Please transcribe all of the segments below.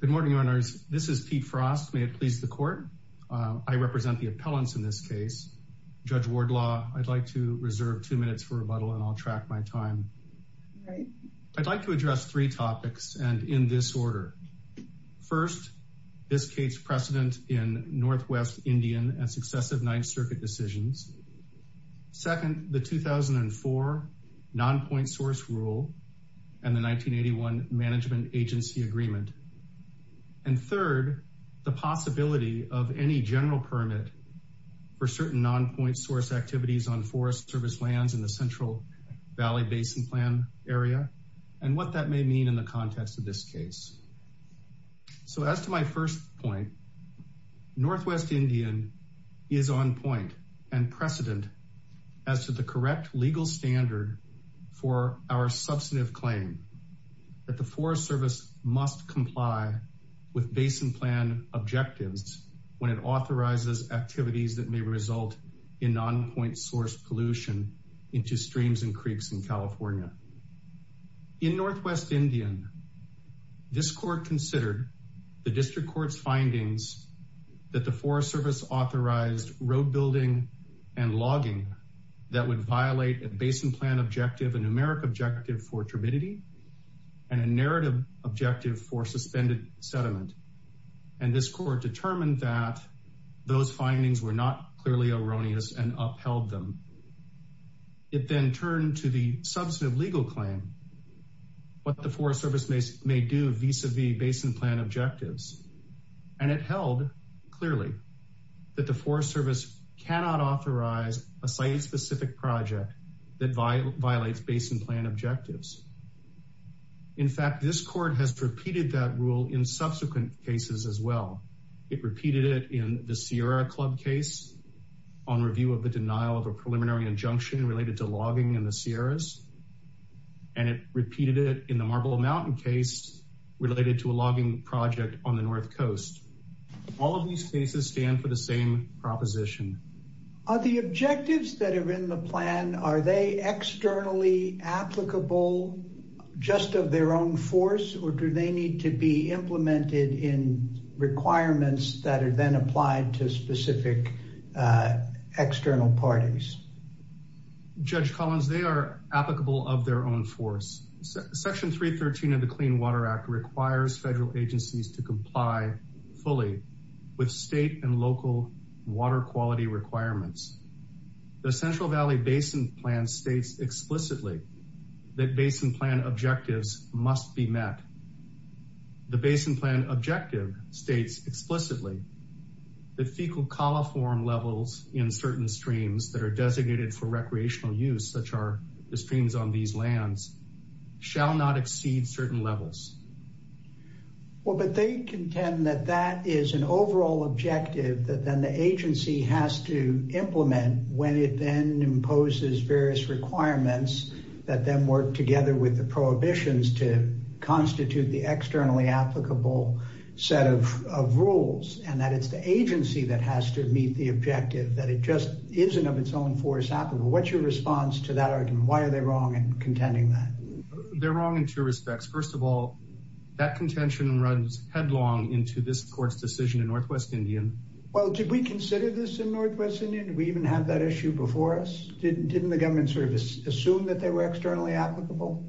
Good morning, Owners. This is Pete Frost. May it please the Court. I represent the appellants in this case. Judge Wardlaw, I'd like to reserve two minutes for rebuttal and I'll track my time. I'd like to address three topics and in this order. First, this case precedent in Northwest Indian and successive Ninth Circuit decisions. Second, the 2004 non-point source rule and the agreement. And third, the possibility of any general permit for certain non-point source activities on Forest Service lands in the Central Valley Basin Plan area and what that may mean in the context of this case. So as to my first point, Northwest Indian is on point and precedent as to the correct legal standard for our substantive claim that the Forest Service must comply with Basin Plan objectives when it authorizes activities that may result in non-point source pollution into streams and creeks in California. In Northwest Indian, this Court considered the District Court's findings that the Forest Service authorized road building and logging that would violate a Basin Plan objective, a numeric objective for turbidity and a narrative objective for suspended sediment. And this Court determined that those findings were not clearly erroneous and upheld them. It then turned to the substantive legal claim what the Forest Service may do vis-a-vis Basin Plan objectives. And it held clearly that the cannot authorize a site-specific project that violates Basin Plan objectives. In fact, this Court has repeated that rule in subsequent cases as well. It repeated it in the Sierra Club case on review of the denial of a preliminary injunction related to logging in the Sierras. And it repeated it in the Marble Mountain case related to a logging project on the North Coast. All of these cases stand for the same proposition. Are the objectives that are in the plan, are they externally applicable just of their own force or do they need to be implemented in requirements that are then applied to specific external parties? Judge Collins, they are applicable of their own force. Section 313 of the Clean Water Act requires federal agencies to comply fully with state and local water quality requirements. The Central Valley Basin Plan states explicitly that Basin Plan objectives must be met. The Basin Plan objective states explicitly that fecal coliform levels in certain streams that are designated for recreational use, such are streams on these lands, shall not exceed certain levels. Well, but they contend that that is an overall objective that then the agency has to implement when it then imposes various requirements that then work together with the prohibitions to constitute the externally applicable set of rules. And that it's the agency that has to meet the objective, that it just isn't of its own force What's your response to that argument? Why are they wrong in contending that? They're wrong in two respects. First of all, that contention runs headlong into this court's decision in Northwest Indian. Well, did we consider this in Northwest Indian? Did we even have that issue before us? Didn't the government sort of assume that they were externally applicable?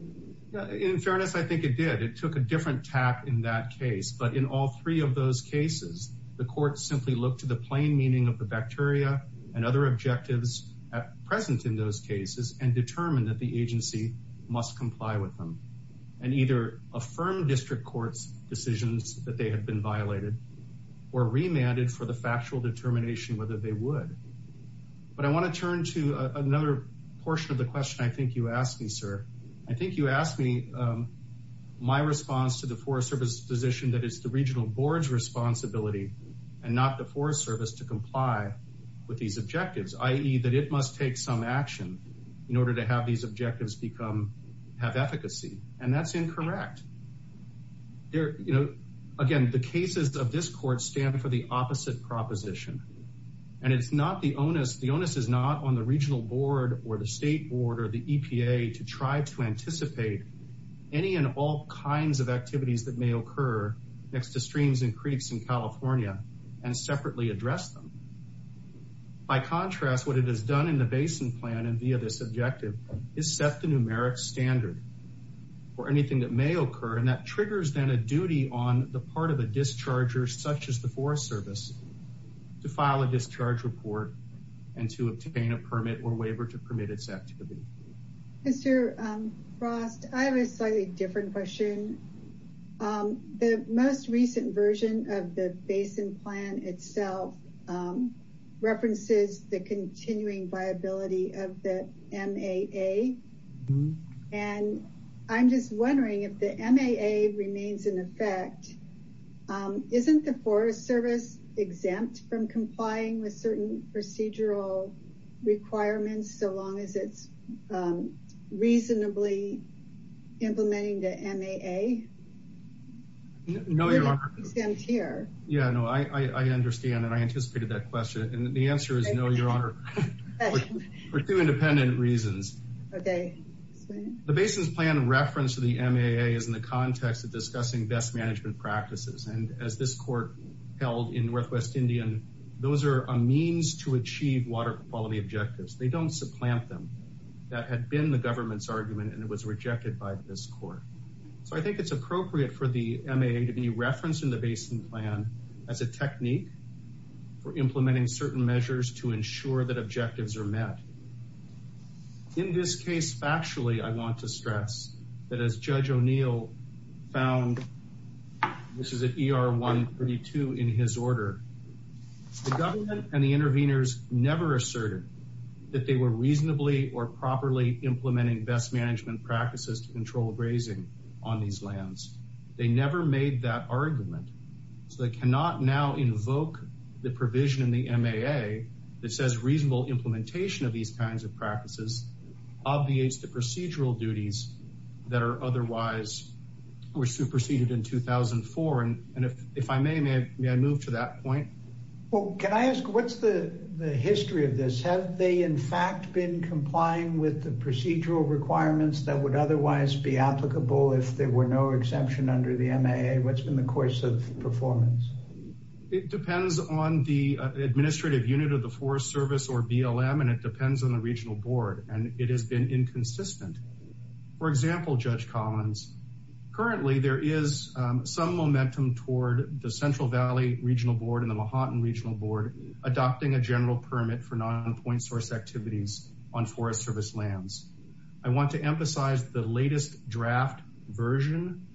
In fairness, I think it did. It took a different tap in that case. But in all three of those cases, the court simply looked to the plain meaning of the bacteria and other objectives present in those cases and determined that the agency must comply with them. And either affirmed district court's decisions that they had been violated or remanded for the factual determination whether they would. But I want to turn to another portion of the question I think you asked me, sir. I think you and not the Forest Service to comply with these objectives, i.e. that it must take some action in order to have these objectives become have efficacy. And that's incorrect. Again, the cases of this court stand for the opposite proposition. And it's not the onus. The onus is not on the regional board or the state board or the EPA to try to anticipate any and all kinds of activities that may occur next to streams and creeks in California and separately address them. By contrast, what it has done in the basin plan and via this objective is set the numeric standard for anything that may occur. And that triggers then a duty on the part of a discharger, such as the Forest Service, to file a discharge report and to obtain a permit or waiver to permit its activity. Mr. Frost, I have a slightly different question. The most recent version of the basin plan itself references the continuing viability of the MAA. And I'm just wondering if the MAA remains in effect, isn't the Forest Service exempt from complying with certain procedural requirements so long as it's reasonably implementing the MAA? No, Your Honor. Yeah, no, I understand. And I anticipated that question. And the answer is no, Your Honor, for two independent reasons. Okay. The basin's plan reference to the MAA is in the context of discussing best management practices. And as this court held in Northwest Indian, those are a means to achieve water quality objectives. They don't supplant them. That had been the government's argument and it was rejected by this court. So I think it's appropriate for the MAA to be referenced in the basin plan as a technique for implementing certain measures to ensure that objectives are met. In this case, factually, I want to stress that as Judge O'Neill found, this is at ER 132 in his order, the government and the interveners never asserted that they were reasonably or properly implementing best management practices to control grazing on these lands. They never made that argument. So they cannot now invoke the provision in the MAA that says reasonable implementation of these kinds of practices obviates the procedural duties that are otherwise were superseded in 2004. And if I may, may I move to that point? Well, can I ask what's the history of this? Have they in fact been complying with the procedural requirements that would otherwise be applicable if there were no exception under the MAA? What's been the course of performance? It depends on the administrative unit of the Forest Service or BLM. And it depends on the regional board and it has been inconsistent. For example, Judge Collins, currently there is some momentum toward the Central Valley Regional Board and the Mahatma Regional Board adopting a general permit for non-point source activities on Forest Service lands. I want to emphasize the latest draft version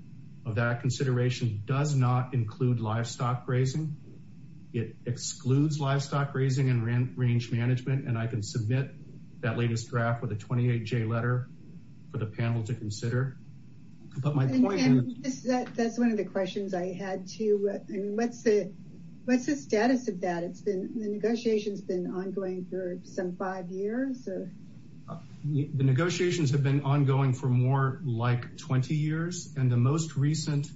of that consideration does not include livestock grazing. It excludes livestock grazing and range management. And I submit that latest draft with a 28-J letter for the panel to consider. That's one of the questions I had too. What's the status of that? The negotiations have been ongoing for some five years? The negotiations have been ongoing for more like 20 years. And the most recent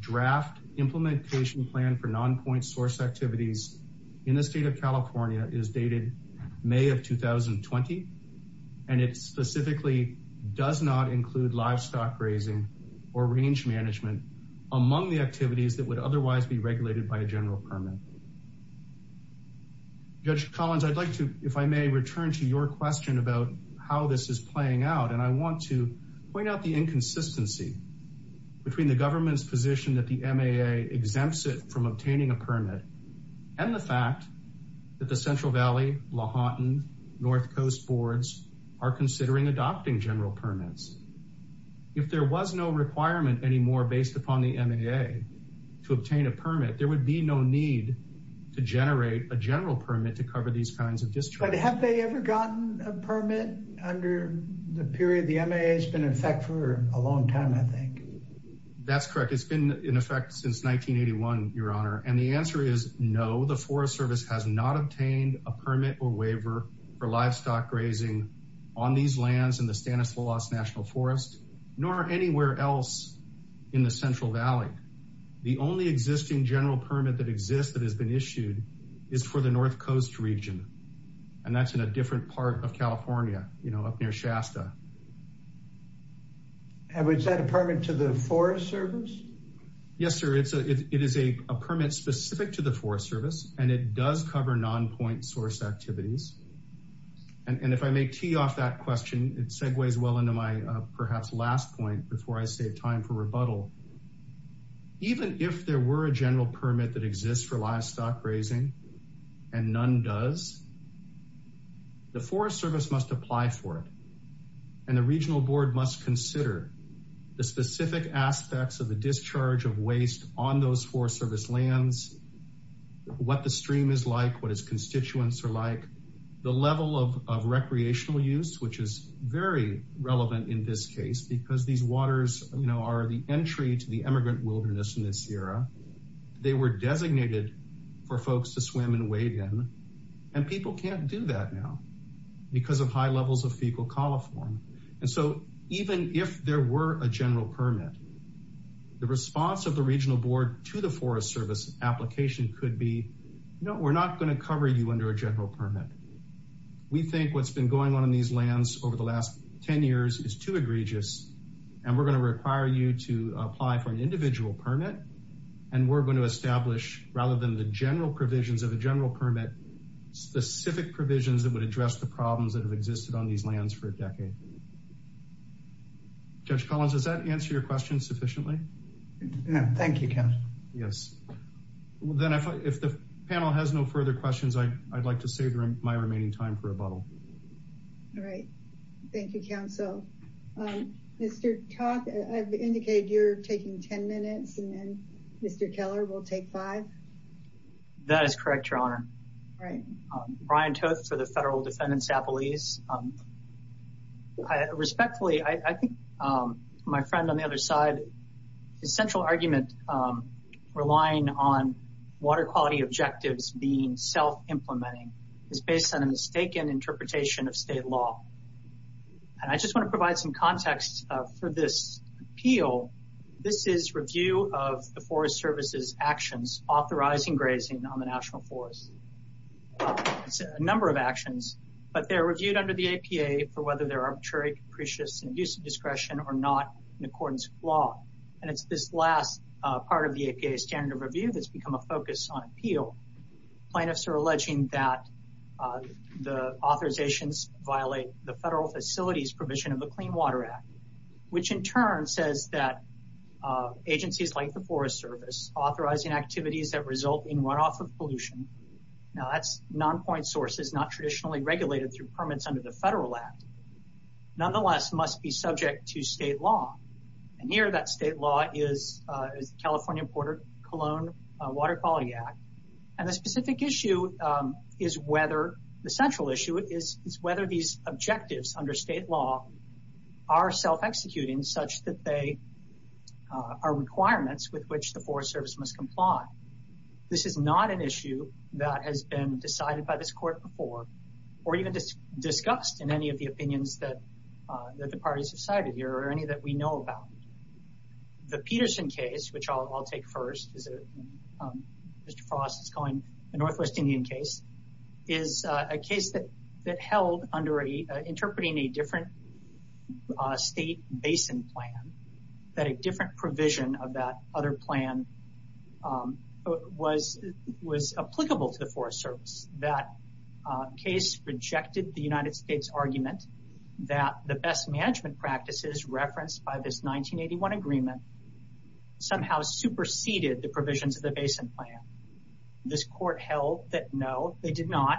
draft implementation plan for non-point source activities in the state of 2020. And it specifically does not include livestock grazing or range management among the activities that would otherwise be regulated by a general permit. Judge Collins, I'd like to, if I may, return to your question about how this is playing out. And I want to point out the inconsistency between the government's position that the MAA exempts from obtaining a permit and the fact that the Central Valley, Lahontan, North Coast boards are considering adopting general permits. If there was no requirement anymore based upon the MAA to obtain a permit, there would be no need to generate a general permit to cover these kinds of districts. But have they ever gotten a permit under the period the MAA has been in effect for a long time, I think? That's correct. It's been in effect since 1981, Your Honor. And the answer is no, the Forest Service has not obtained a permit or waiver for livestock grazing on these lands in the Stanislaus National Forest, nor anywhere else in the Central Valley. The only existing general permit that exists that has been issued is for the North Coast region. And that's a different part of California, you know, up near Shasta. And was that a permit to the Forest Service? Yes, sir. It's a, it is a permit specific to the Forest Service and it does cover non-point source activities. And if I may tee off that question, it segues well into my perhaps last point before I save time for rebuttal. Even if there were a general permit that exists for the Forest Service must apply for it. And the Regional Board must consider the specific aspects of the discharge of waste on those Forest Service lands, what the stream is like, what its constituents are like, the level of recreational use, which is very relevant in this case, because these waters, you know, are the entry to the immigrant wilderness in this era. They were designated for folks to because of high levels of fecal coliform. And so even if there were a general permit, the response of the Regional Board to the Forest Service application could be, you know, we're not going to cover you under a general permit. We think what's been going on in these lands over the last 10 years is too egregious. And we're going to require you to apply for an individual permit. And we're going to establish, rather than the general provisions of a general permit, specific provisions that would address the problems that have existed on these lands for a decade. Judge Collins, does that answer your question sufficiently? Yeah, thank you, Counsel. Yes. Well, then if the panel has no further questions, I'd like to save my remaining time for rebuttal. All right. Thank you, Counsel. Mr. Todd, I've indicated you're taking 10 minutes and then Mr. Keller will take five. That is correct, Your Honor. Right. Brian Toth for the Federal Defendant's Appeals. Respectfully, I think my friend on the other side, his central argument relying on water quality objectives being self-implementing is based on a mistaken interpretation of state law. And I just want to provide some context for this appeal. This is a review of the Forest Service's actions authorizing grazing on the National Forest. It's a number of actions, but they're reviewed under the APA for whether they're arbitrary, capricious, and abuse of discretion or not in accordance with law. And it's this last part of the APA standard of review that's become a focus on appeal. Plaintiffs are alleging that the authorizations violate the Federal Facilities Provision of the Clean Water Act, which in turn says that agencies like the Forest Service authorizing activities that result in runoff of pollution. Now that's non-point sources, not traditionally regulated through permits under the Federal Act. Nonetheless, must be subject to state law. And here that state law is the California Porter-Cologne Water Quality Act. And the specific issue is whether, the central issue is whether these objectives under state law are self-executing such that they are requirements with which the Forest Service must comply. This is not an issue that has been decided by this court before or even discussed in any of the opinions that the parties have cited here or any that we know about. The Peterson case, which I'll take first, which Mr. Frost is calling the Northwest Indian case, is a case that held under interpreting a different state basin plan, that a different provision of that other plan was applicable to the Forest Service. That case rejected the United States argument that the best management practices referenced by this 1981 agreement somehow superseded the provisions of the basin plan. This court held that no, they did not.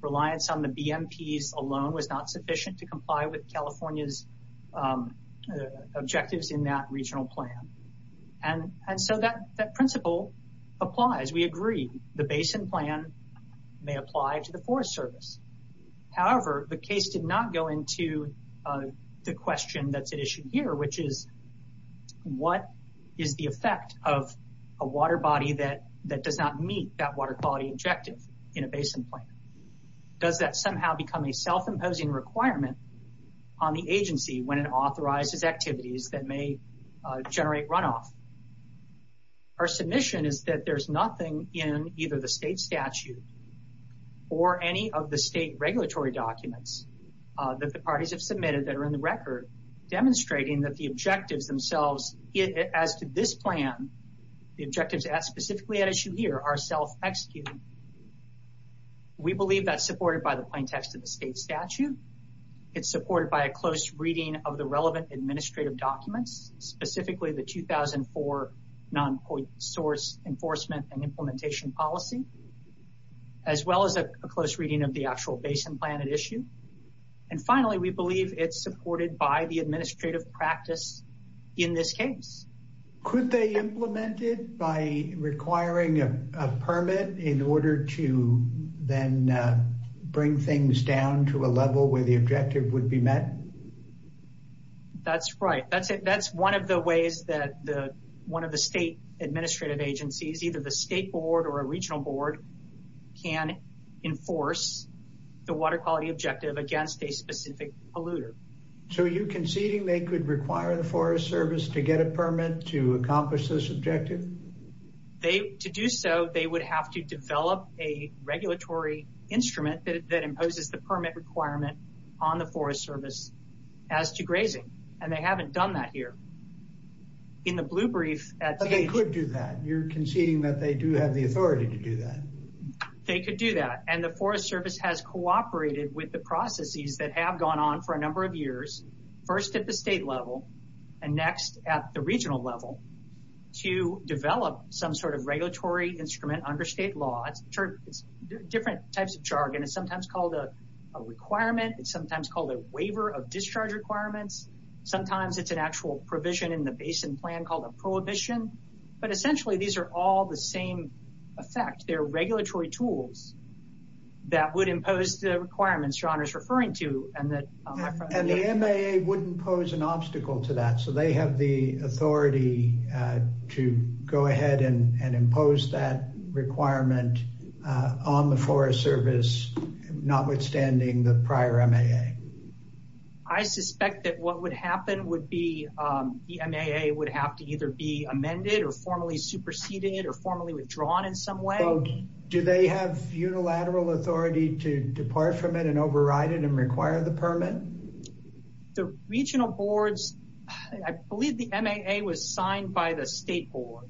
Reliance on the BMPs alone was not sufficient to comply with California's objectives in that regional plan. And so that principle applies. We agree the basin plan may apply to the Forest Service. However, the case did not go into the question that's at issue here, which is, what is the effect of a water body that does not meet that water quality objective in a basin plan? Does that somehow become a self-imposing requirement on the agency when it authorizes activities that may generate runoff? Our submission is that there's nothing in either the state statute or any of the state regulatory documents that the submitted that are in the record demonstrating that the objectives themselves as to this plan, the objectives specifically at issue here, are self-executing. We believe that's supported by the plain text of the state statute. It's supported by a close reading of the relevant administrative documents, specifically the 2004 non-point source enforcement and implementation policy, as well as a close reading of the actual basin plan at issue. And finally, we believe it's supported by the administrative practice in this case. Could they implement it by requiring a permit in order to then bring things down to a level where the objective would be met? That's right. That's it. That's one of the ways that the one of the state administrative agencies, either the state board or a regional board, can enforce the water quality objective against a specific polluter. So, are you conceding they could require the Forest Service to get a permit to accomplish this objective? To do so, they would have to develop a regulatory instrument that imposes the permit requirement on the Forest Service as to grazing, and they haven't done that here. In the blue brief, they could do that. You're conceding that they do have the authority to do that. They could do that, and the Forest Service has cooperated with the processes that have gone on for a number of years, first at the state level and next at the regional level, to develop some sort of regulatory instrument under state law. It's different types of jargon. It's sometimes called a requirement. It's sometimes called a waiver of discharge requirements. Sometimes it's an actual provision in the basin plan called a prohibition. But essentially, these are all the same effect. They're regulatory tools that would impose the requirements John is referring to. And the MAA wouldn't pose an obstacle to that. So, they have the authority to go ahead and impose that requirement on the Forest Service, notwithstanding the prior MAA. I suspect that what would happen would be the MAA would have to either be amended or formally superseded or formally withdrawn in some way. Do they have unilateral authority to depart from it and override it and require the permit? The regional boards, I believe the MAA was signed by the state board.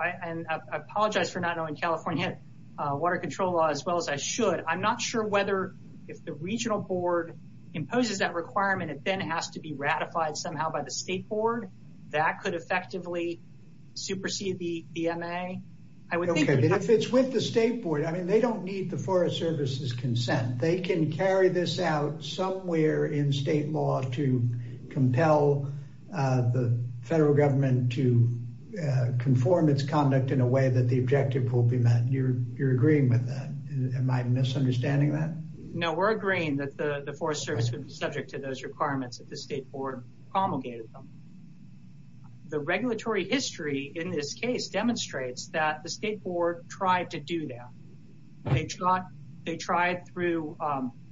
I apologize for not knowing California had water control law as well as I should. I'm not sure whether if the regional board imposes that requirement, it then has to be ratified somehow by the state board. That could effectively supersede the MAA. If it's with the state board, I mean, they don't need the Forest Service's consent. They can carry this out somewhere in state law to compel the federal government to conform its conduct in a way that the objective will be met. You're agreeing with that. Am I misunderstanding that? No, we're agreeing that the Forest Service would be subject to those requirements if the state board promulgated them. The regulatory history in this case demonstrates that the state board tried to do that. They tried through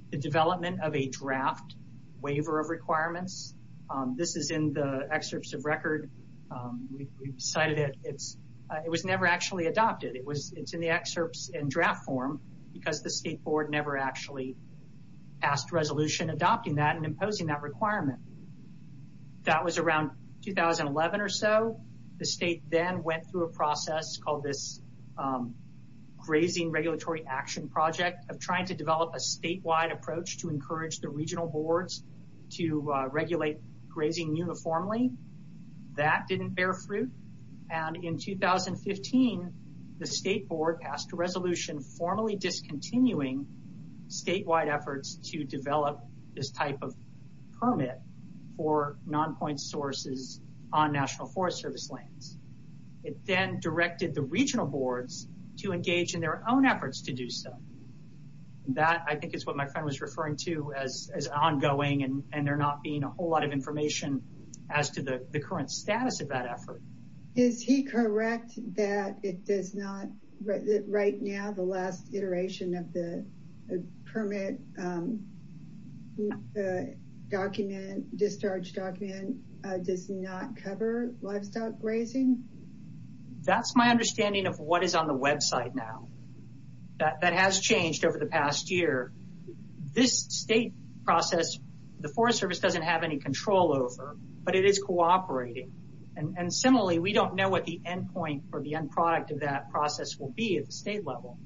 the development of a draft waiver of requirements. This is in the excerpts of record. We cited it. It was never actually adopted. It's in the excerpts and draft form because the state board never actually passed resolution adopting that and imposing that requirement. That was around 2011 or so. The state then went through a process called this Grazing Regulatory Action Project of trying to develop a statewide approach to encourage the regional boards to regulate grazing uniformly. That didn't bear fruit. In 2015, the state board passed a resolution formally discontinuing statewide efforts to develop this type of permit for non-point sources on National Forest Service lands. It then directed the regional boards to engage in their own efforts to do so. That, I think, is what my friend was referring to as ongoing and there not being a whole lot of information as to the current status of that right now. The last iteration of the permit discharge document does not cover livestock grazing. That's my understanding of what is on the website now. That has changed over the past year. This state process, the Forest Service doesn't have any control over, but it is cooperating. Similarly, we don't know what the end product of that process will be at the state level.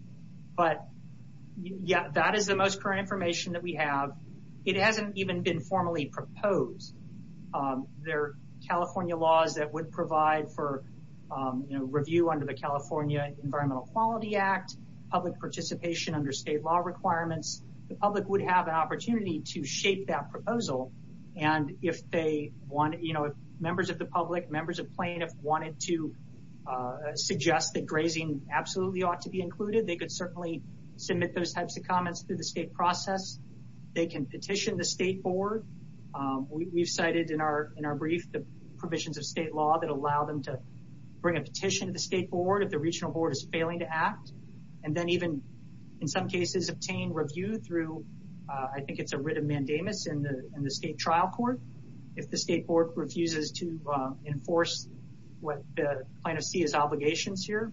That is the most current information that we have. It hasn't even been formally proposed. There are California laws that would provide for review under the California Environmental Quality Act, public participation under state law requirements. The public would have an opportunity to shape that proposal. And if members of the public, members of plaintiff wanted to suggest that grazing absolutely ought to be included, they could certainly submit those types of comments through the state process. They can petition the state board. We've cited in our brief the provisions of state law that allow them to bring a petition to the state board if the regional board is failing to act and then even, in some cases, obtain review through, I think it's a mandamus in the state trial court. If the state board refuses to enforce what the plaintiff sees as obligations here,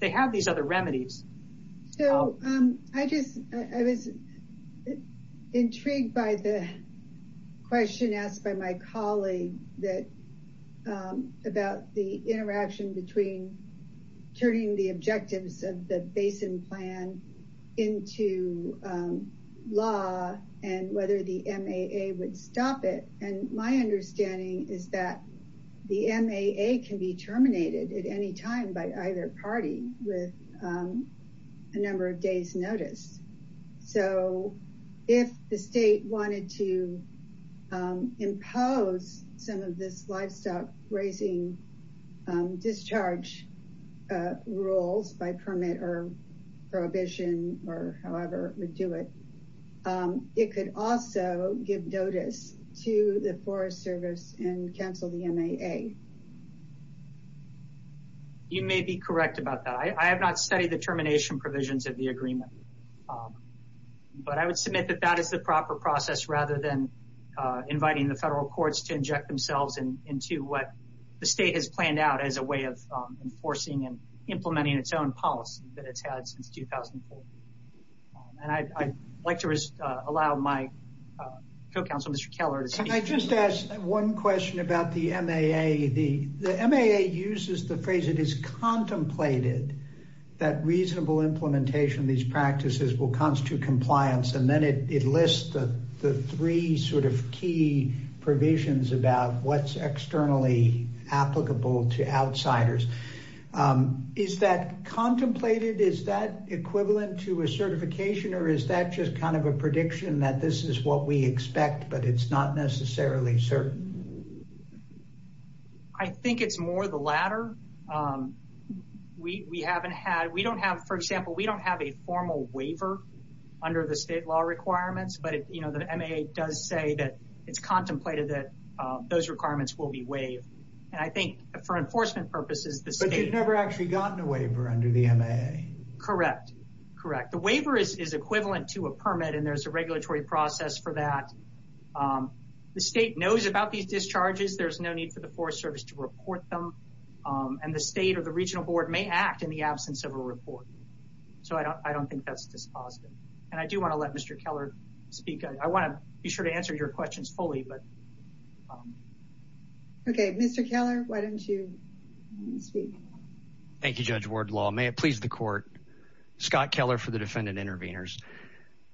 they have these other remedies. I was intrigued by the question asked by my colleague about the interaction between turning the objectives of the basin plan into law and whether the MAA would stop it. And my understanding is that the MAA can be terminated at any time by either party with a number of days notice. So if the state wanted to or however it would do it, it could also give notice to the Forest Service and cancel the MAA. You may be correct about that. I have not studied the termination provisions of the agreement, but I would submit that that is the proper process rather than inviting the federal courts to inject themselves into what the state has planned out as a way of enforcing and I'd like to allow my co-counsel Mr. Keller to speak. Can I just ask one question about the MAA? The MAA uses the phrase it is contemplated that reasonable implementation of these practices will constitute compliance and then it lists the three sort of key provisions about what's externally applicable to outsiders. Is that contemplated? Is that equivalent to a certification or is that just kind of a prediction that this is what we expect but it's not necessarily certain? I think it's more the latter. We haven't had we don't have for example we don't have a formal waiver under the state law requirements but you know the MAA does say that it's contemplated that those requirements will be waived and I think for enforcement purposes the state... But you've never actually gotten a waiver under the MAA? Correct. The waiver is equivalent to a permit and there's a regulatory process for that. The state knows about these discharges. There's no need for the Forest Service to report them and the state or the regional board may act in the absence of a report. So I don't think that's dispositive and I do want to let Mr. Keller speak. I want to be sure to speak. Thank you Judge Wardlaw. May it please the court. Scott Keller for the defendant interveners.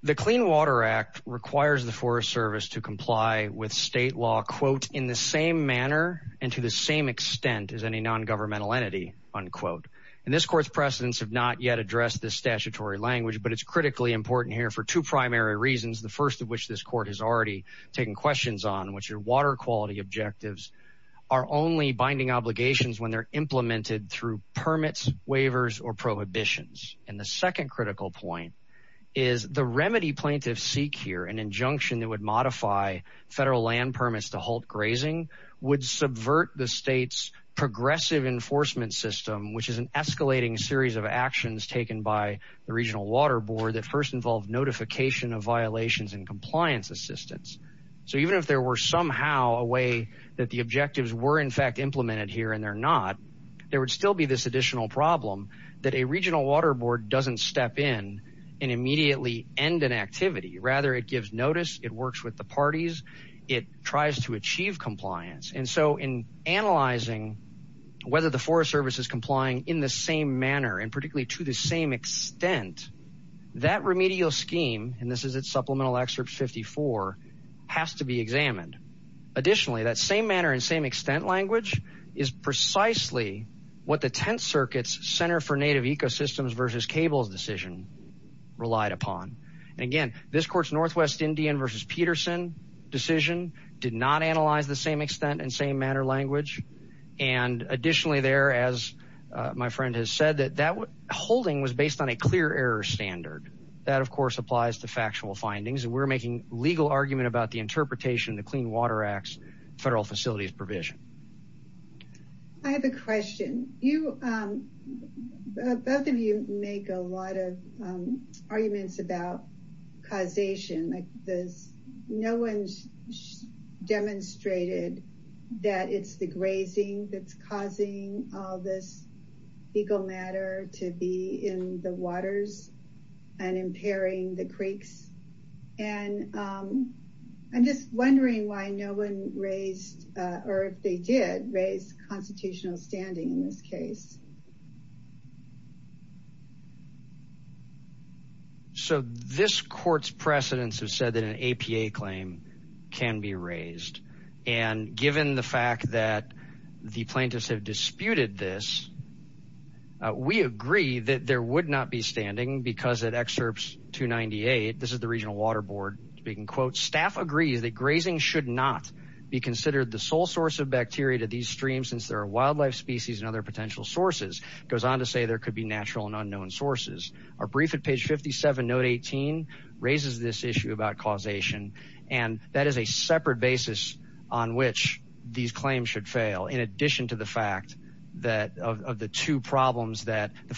The Clean Water Act requires the Forest Service to comply with state law quote in the same manner and to the same extent as any non-governmental entity unquote and this court's precedents have not yet addressed this statutory language but it's critically important here for two primary reasons the first of which this court has already taken questions on which are water quality objectives are only binding obligations when they're implemented through permits waivers or prohibitions and the second critical point is the remedy plaintiffs seek here an injunction that would modify federal land permits to halt grazing would subvert the state's progressive enforcement system which is an escalating series of actions taken by the regional water board that first involved notification of violations and compliance assistance. So even if there were somehow a way that the objectives were in fact implemented here and they're not there would still be this additional problem that a regional water board doesn't step in and immediately end an activity rather it gives notice it works with the parties it tries to achieve compliance and so in analyzing whether the Forest Service is complying in the same manner and particularly to the same extent that remedial scheme and this is its supplemental excerpt 54 has to be examined additionally that same manner and same extent language is precisely what the 10th circuits center for native ecosystems versus cables decision relied upon again this court's northwest indian versus peterson decision did not analyze the same extent and same manner language and additionally there as my friend has said that that holding was based on a clear error standard that of course applies to factual federal facilities provision. I have a question you both of you make a lot of arguments about causation like this no one's demonstrated that it's the grazing that's causing all this legal matter to be in the waters and impairing the creeks and I'm just wondering why no one raised or if they did raise constitutional standing in this case. So this court's precedents have said that an APA claim can be raised and given the fact that the plaintiffs have disputed this we agree that there would not be standing because at excerpts 298 this is the regional water board speaking quote staff agrees that grazing should not be considered the sole source of bacteria to these streams since there are wildlife species and other potential sources goes on to say there could be natural and unknown sources. Our brief at page 57 note 18 raises this issue about causation and that is a separate basis on which these claims should fail in addition to the fact that of the two problems that the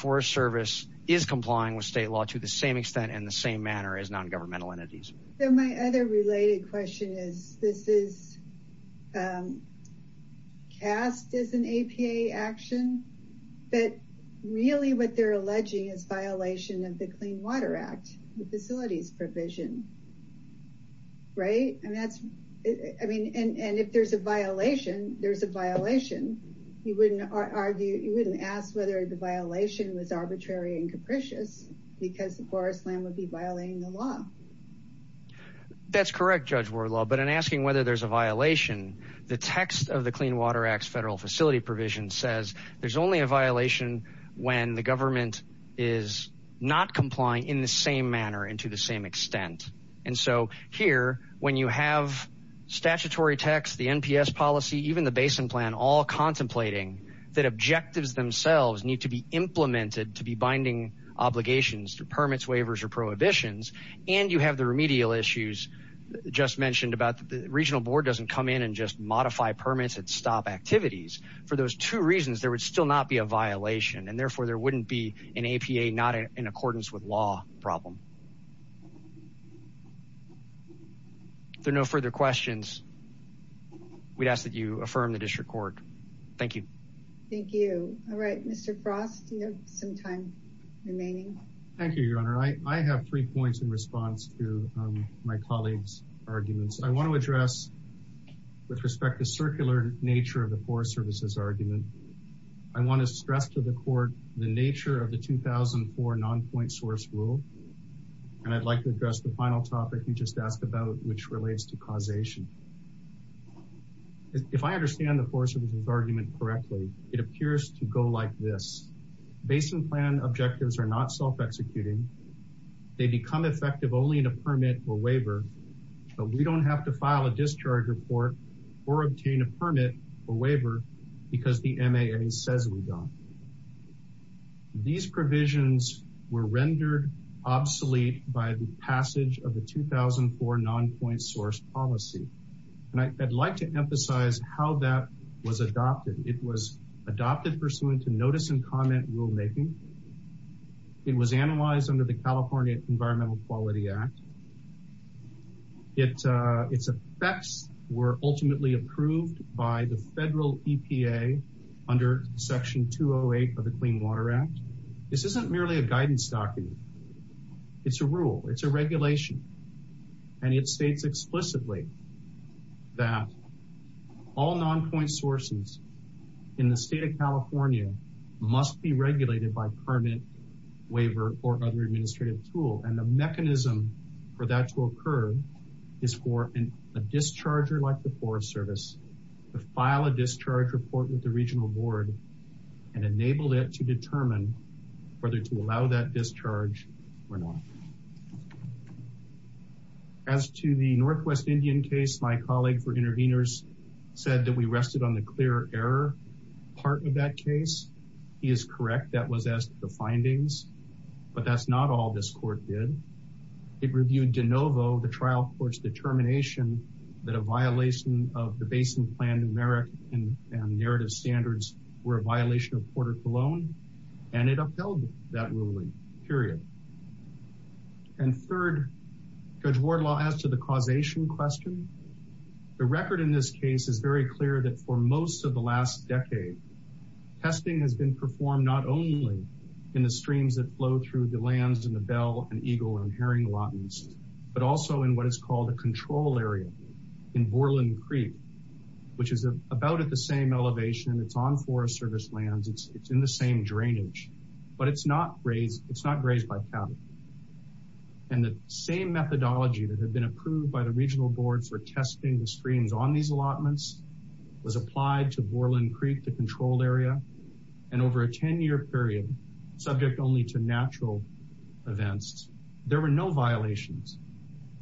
same manner as non-governmental entities. My other related question is this is cast as an APA action but really what they're alleging is violation of the clean water act the facilities provision right and that's I mean and and if there's a violation there's a violation you wouldn't argue you wouldn't ask whether the violation was arbitrary and capricious because the forest land would be violating the law. That's correct Judge Wardlaw but in asking whether there's a violation the text of the clean water acts federal facility provision says there's only a violation when the government is not complying in the same manner and to the same extent and so here when you have statutory text the NPS policy even the basin plan all contemplating that objectives themselves need to be implemented to be binding obligations through permits waivers or prohibitions and you have the remedial issues just mentioned about the regional board doesn't come in and just modify permits and stop activities for those two reasons there would still not be a violation and therefore there wouldn't be an APA not in accordance with law problem. If there are no further questions we'd ask that you affirm the district court. Thank you. Thank you. All right Mr. Frost you have some time remaining. Thank you your honor. I have three points in response to my colleagues arguments. I want to address with respect to circular nature of the Forest Services argument. I want to stress to the court the nature of the 2004 non-point source rule and I'd like to address the final topic you just asked about which relates to causation. If I understand the Forest Services argument correctly it appears to go like this. Basin plan objectives are not self-executing. They become effective only in a permit or waiver but we don't have to file a discharge report or obtain a permit or waiver because the MAA says we These provisions were rendered obsolete by the passage of the 2004 non-point source policy and I'd like to emphasize how that was adopted. It was adopted pursuant to notice and comment rule making. It was analyzed under the California Environmental Quality Act. Its effects were ultimately approved by the federal EPA under section 208 of the Clean Water Act. This isn't merely a guidance document. It's a rule. It's a regulation and it states explicitly that all non-point sources in the state of California must be regulated by permit waiver or other service to file a discharge report with the regional board and enable it to determine whether to allow that discharge or not. As to the Northwest Indian case my colleague for interveners said that we rested on the clear error part of that case. He is correct that was as the findings but that's not all this court did. It reviewed de novo the trial court's determination that a violation of the basin plan numeric and narrative standards were a violation of Porter-Cologne and it upheld that ruling period and third Judge Wardlaw asked to the causation question. The record in this case is very clear that for most of the last decade testing has been performed not only in the streams that flow through the lands in the Bell and Eagle and Herring allotments but also in what is called a control area in Borland Creek which is about at the same elevation and it's on forest service lands. It's in the same drainage but it's not grazed by cattle and the same methodology that had been approved by the regional board for testing the streams on these allotments was a 10-year period subject only to natural events. There were no violations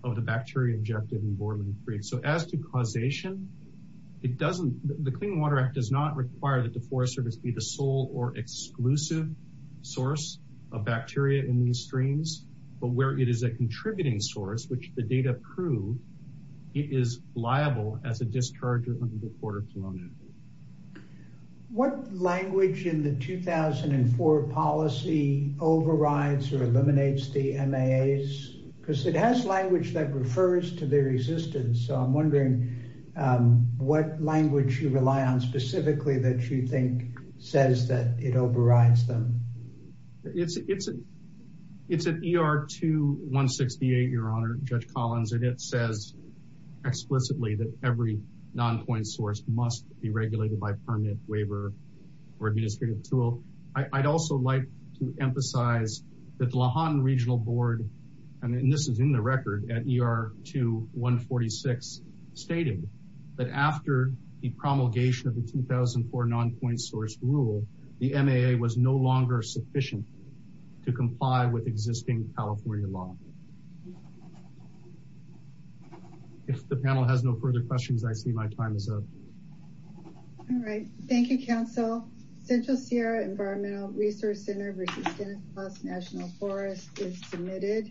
of the bacteria injected in Borland Creek so as to causation it doesn't the Clean Water Act does not require that the forest service be the sole or exclusive source of bacteria in these streams but where it is a contributing source which the data prove it is liable as a discharger under Porter-Cologne. What language in the 2004 policy overrides or eliminates the MAAs because it has language that refers to their existence so I'm wondering what language you rely on specifically that you think says that it overrides them? It's an ER 2168 your honor Judge Collins and it says explicitly that every non-point source must be regulated by permanent waiver or administrative tool. I'd also like to emphasize that the Lahon Regional Board and this is in the record at ER 2146 stated that after the promulgation of the 2004 non-point source rule the MAA was no longer sufficient to comply with existing California law. If the panel has no further questions I see my time is up. All right thank you counsel. Central Sierra Environmental Resource Center versus Kenneth Plus National Forest is submitted.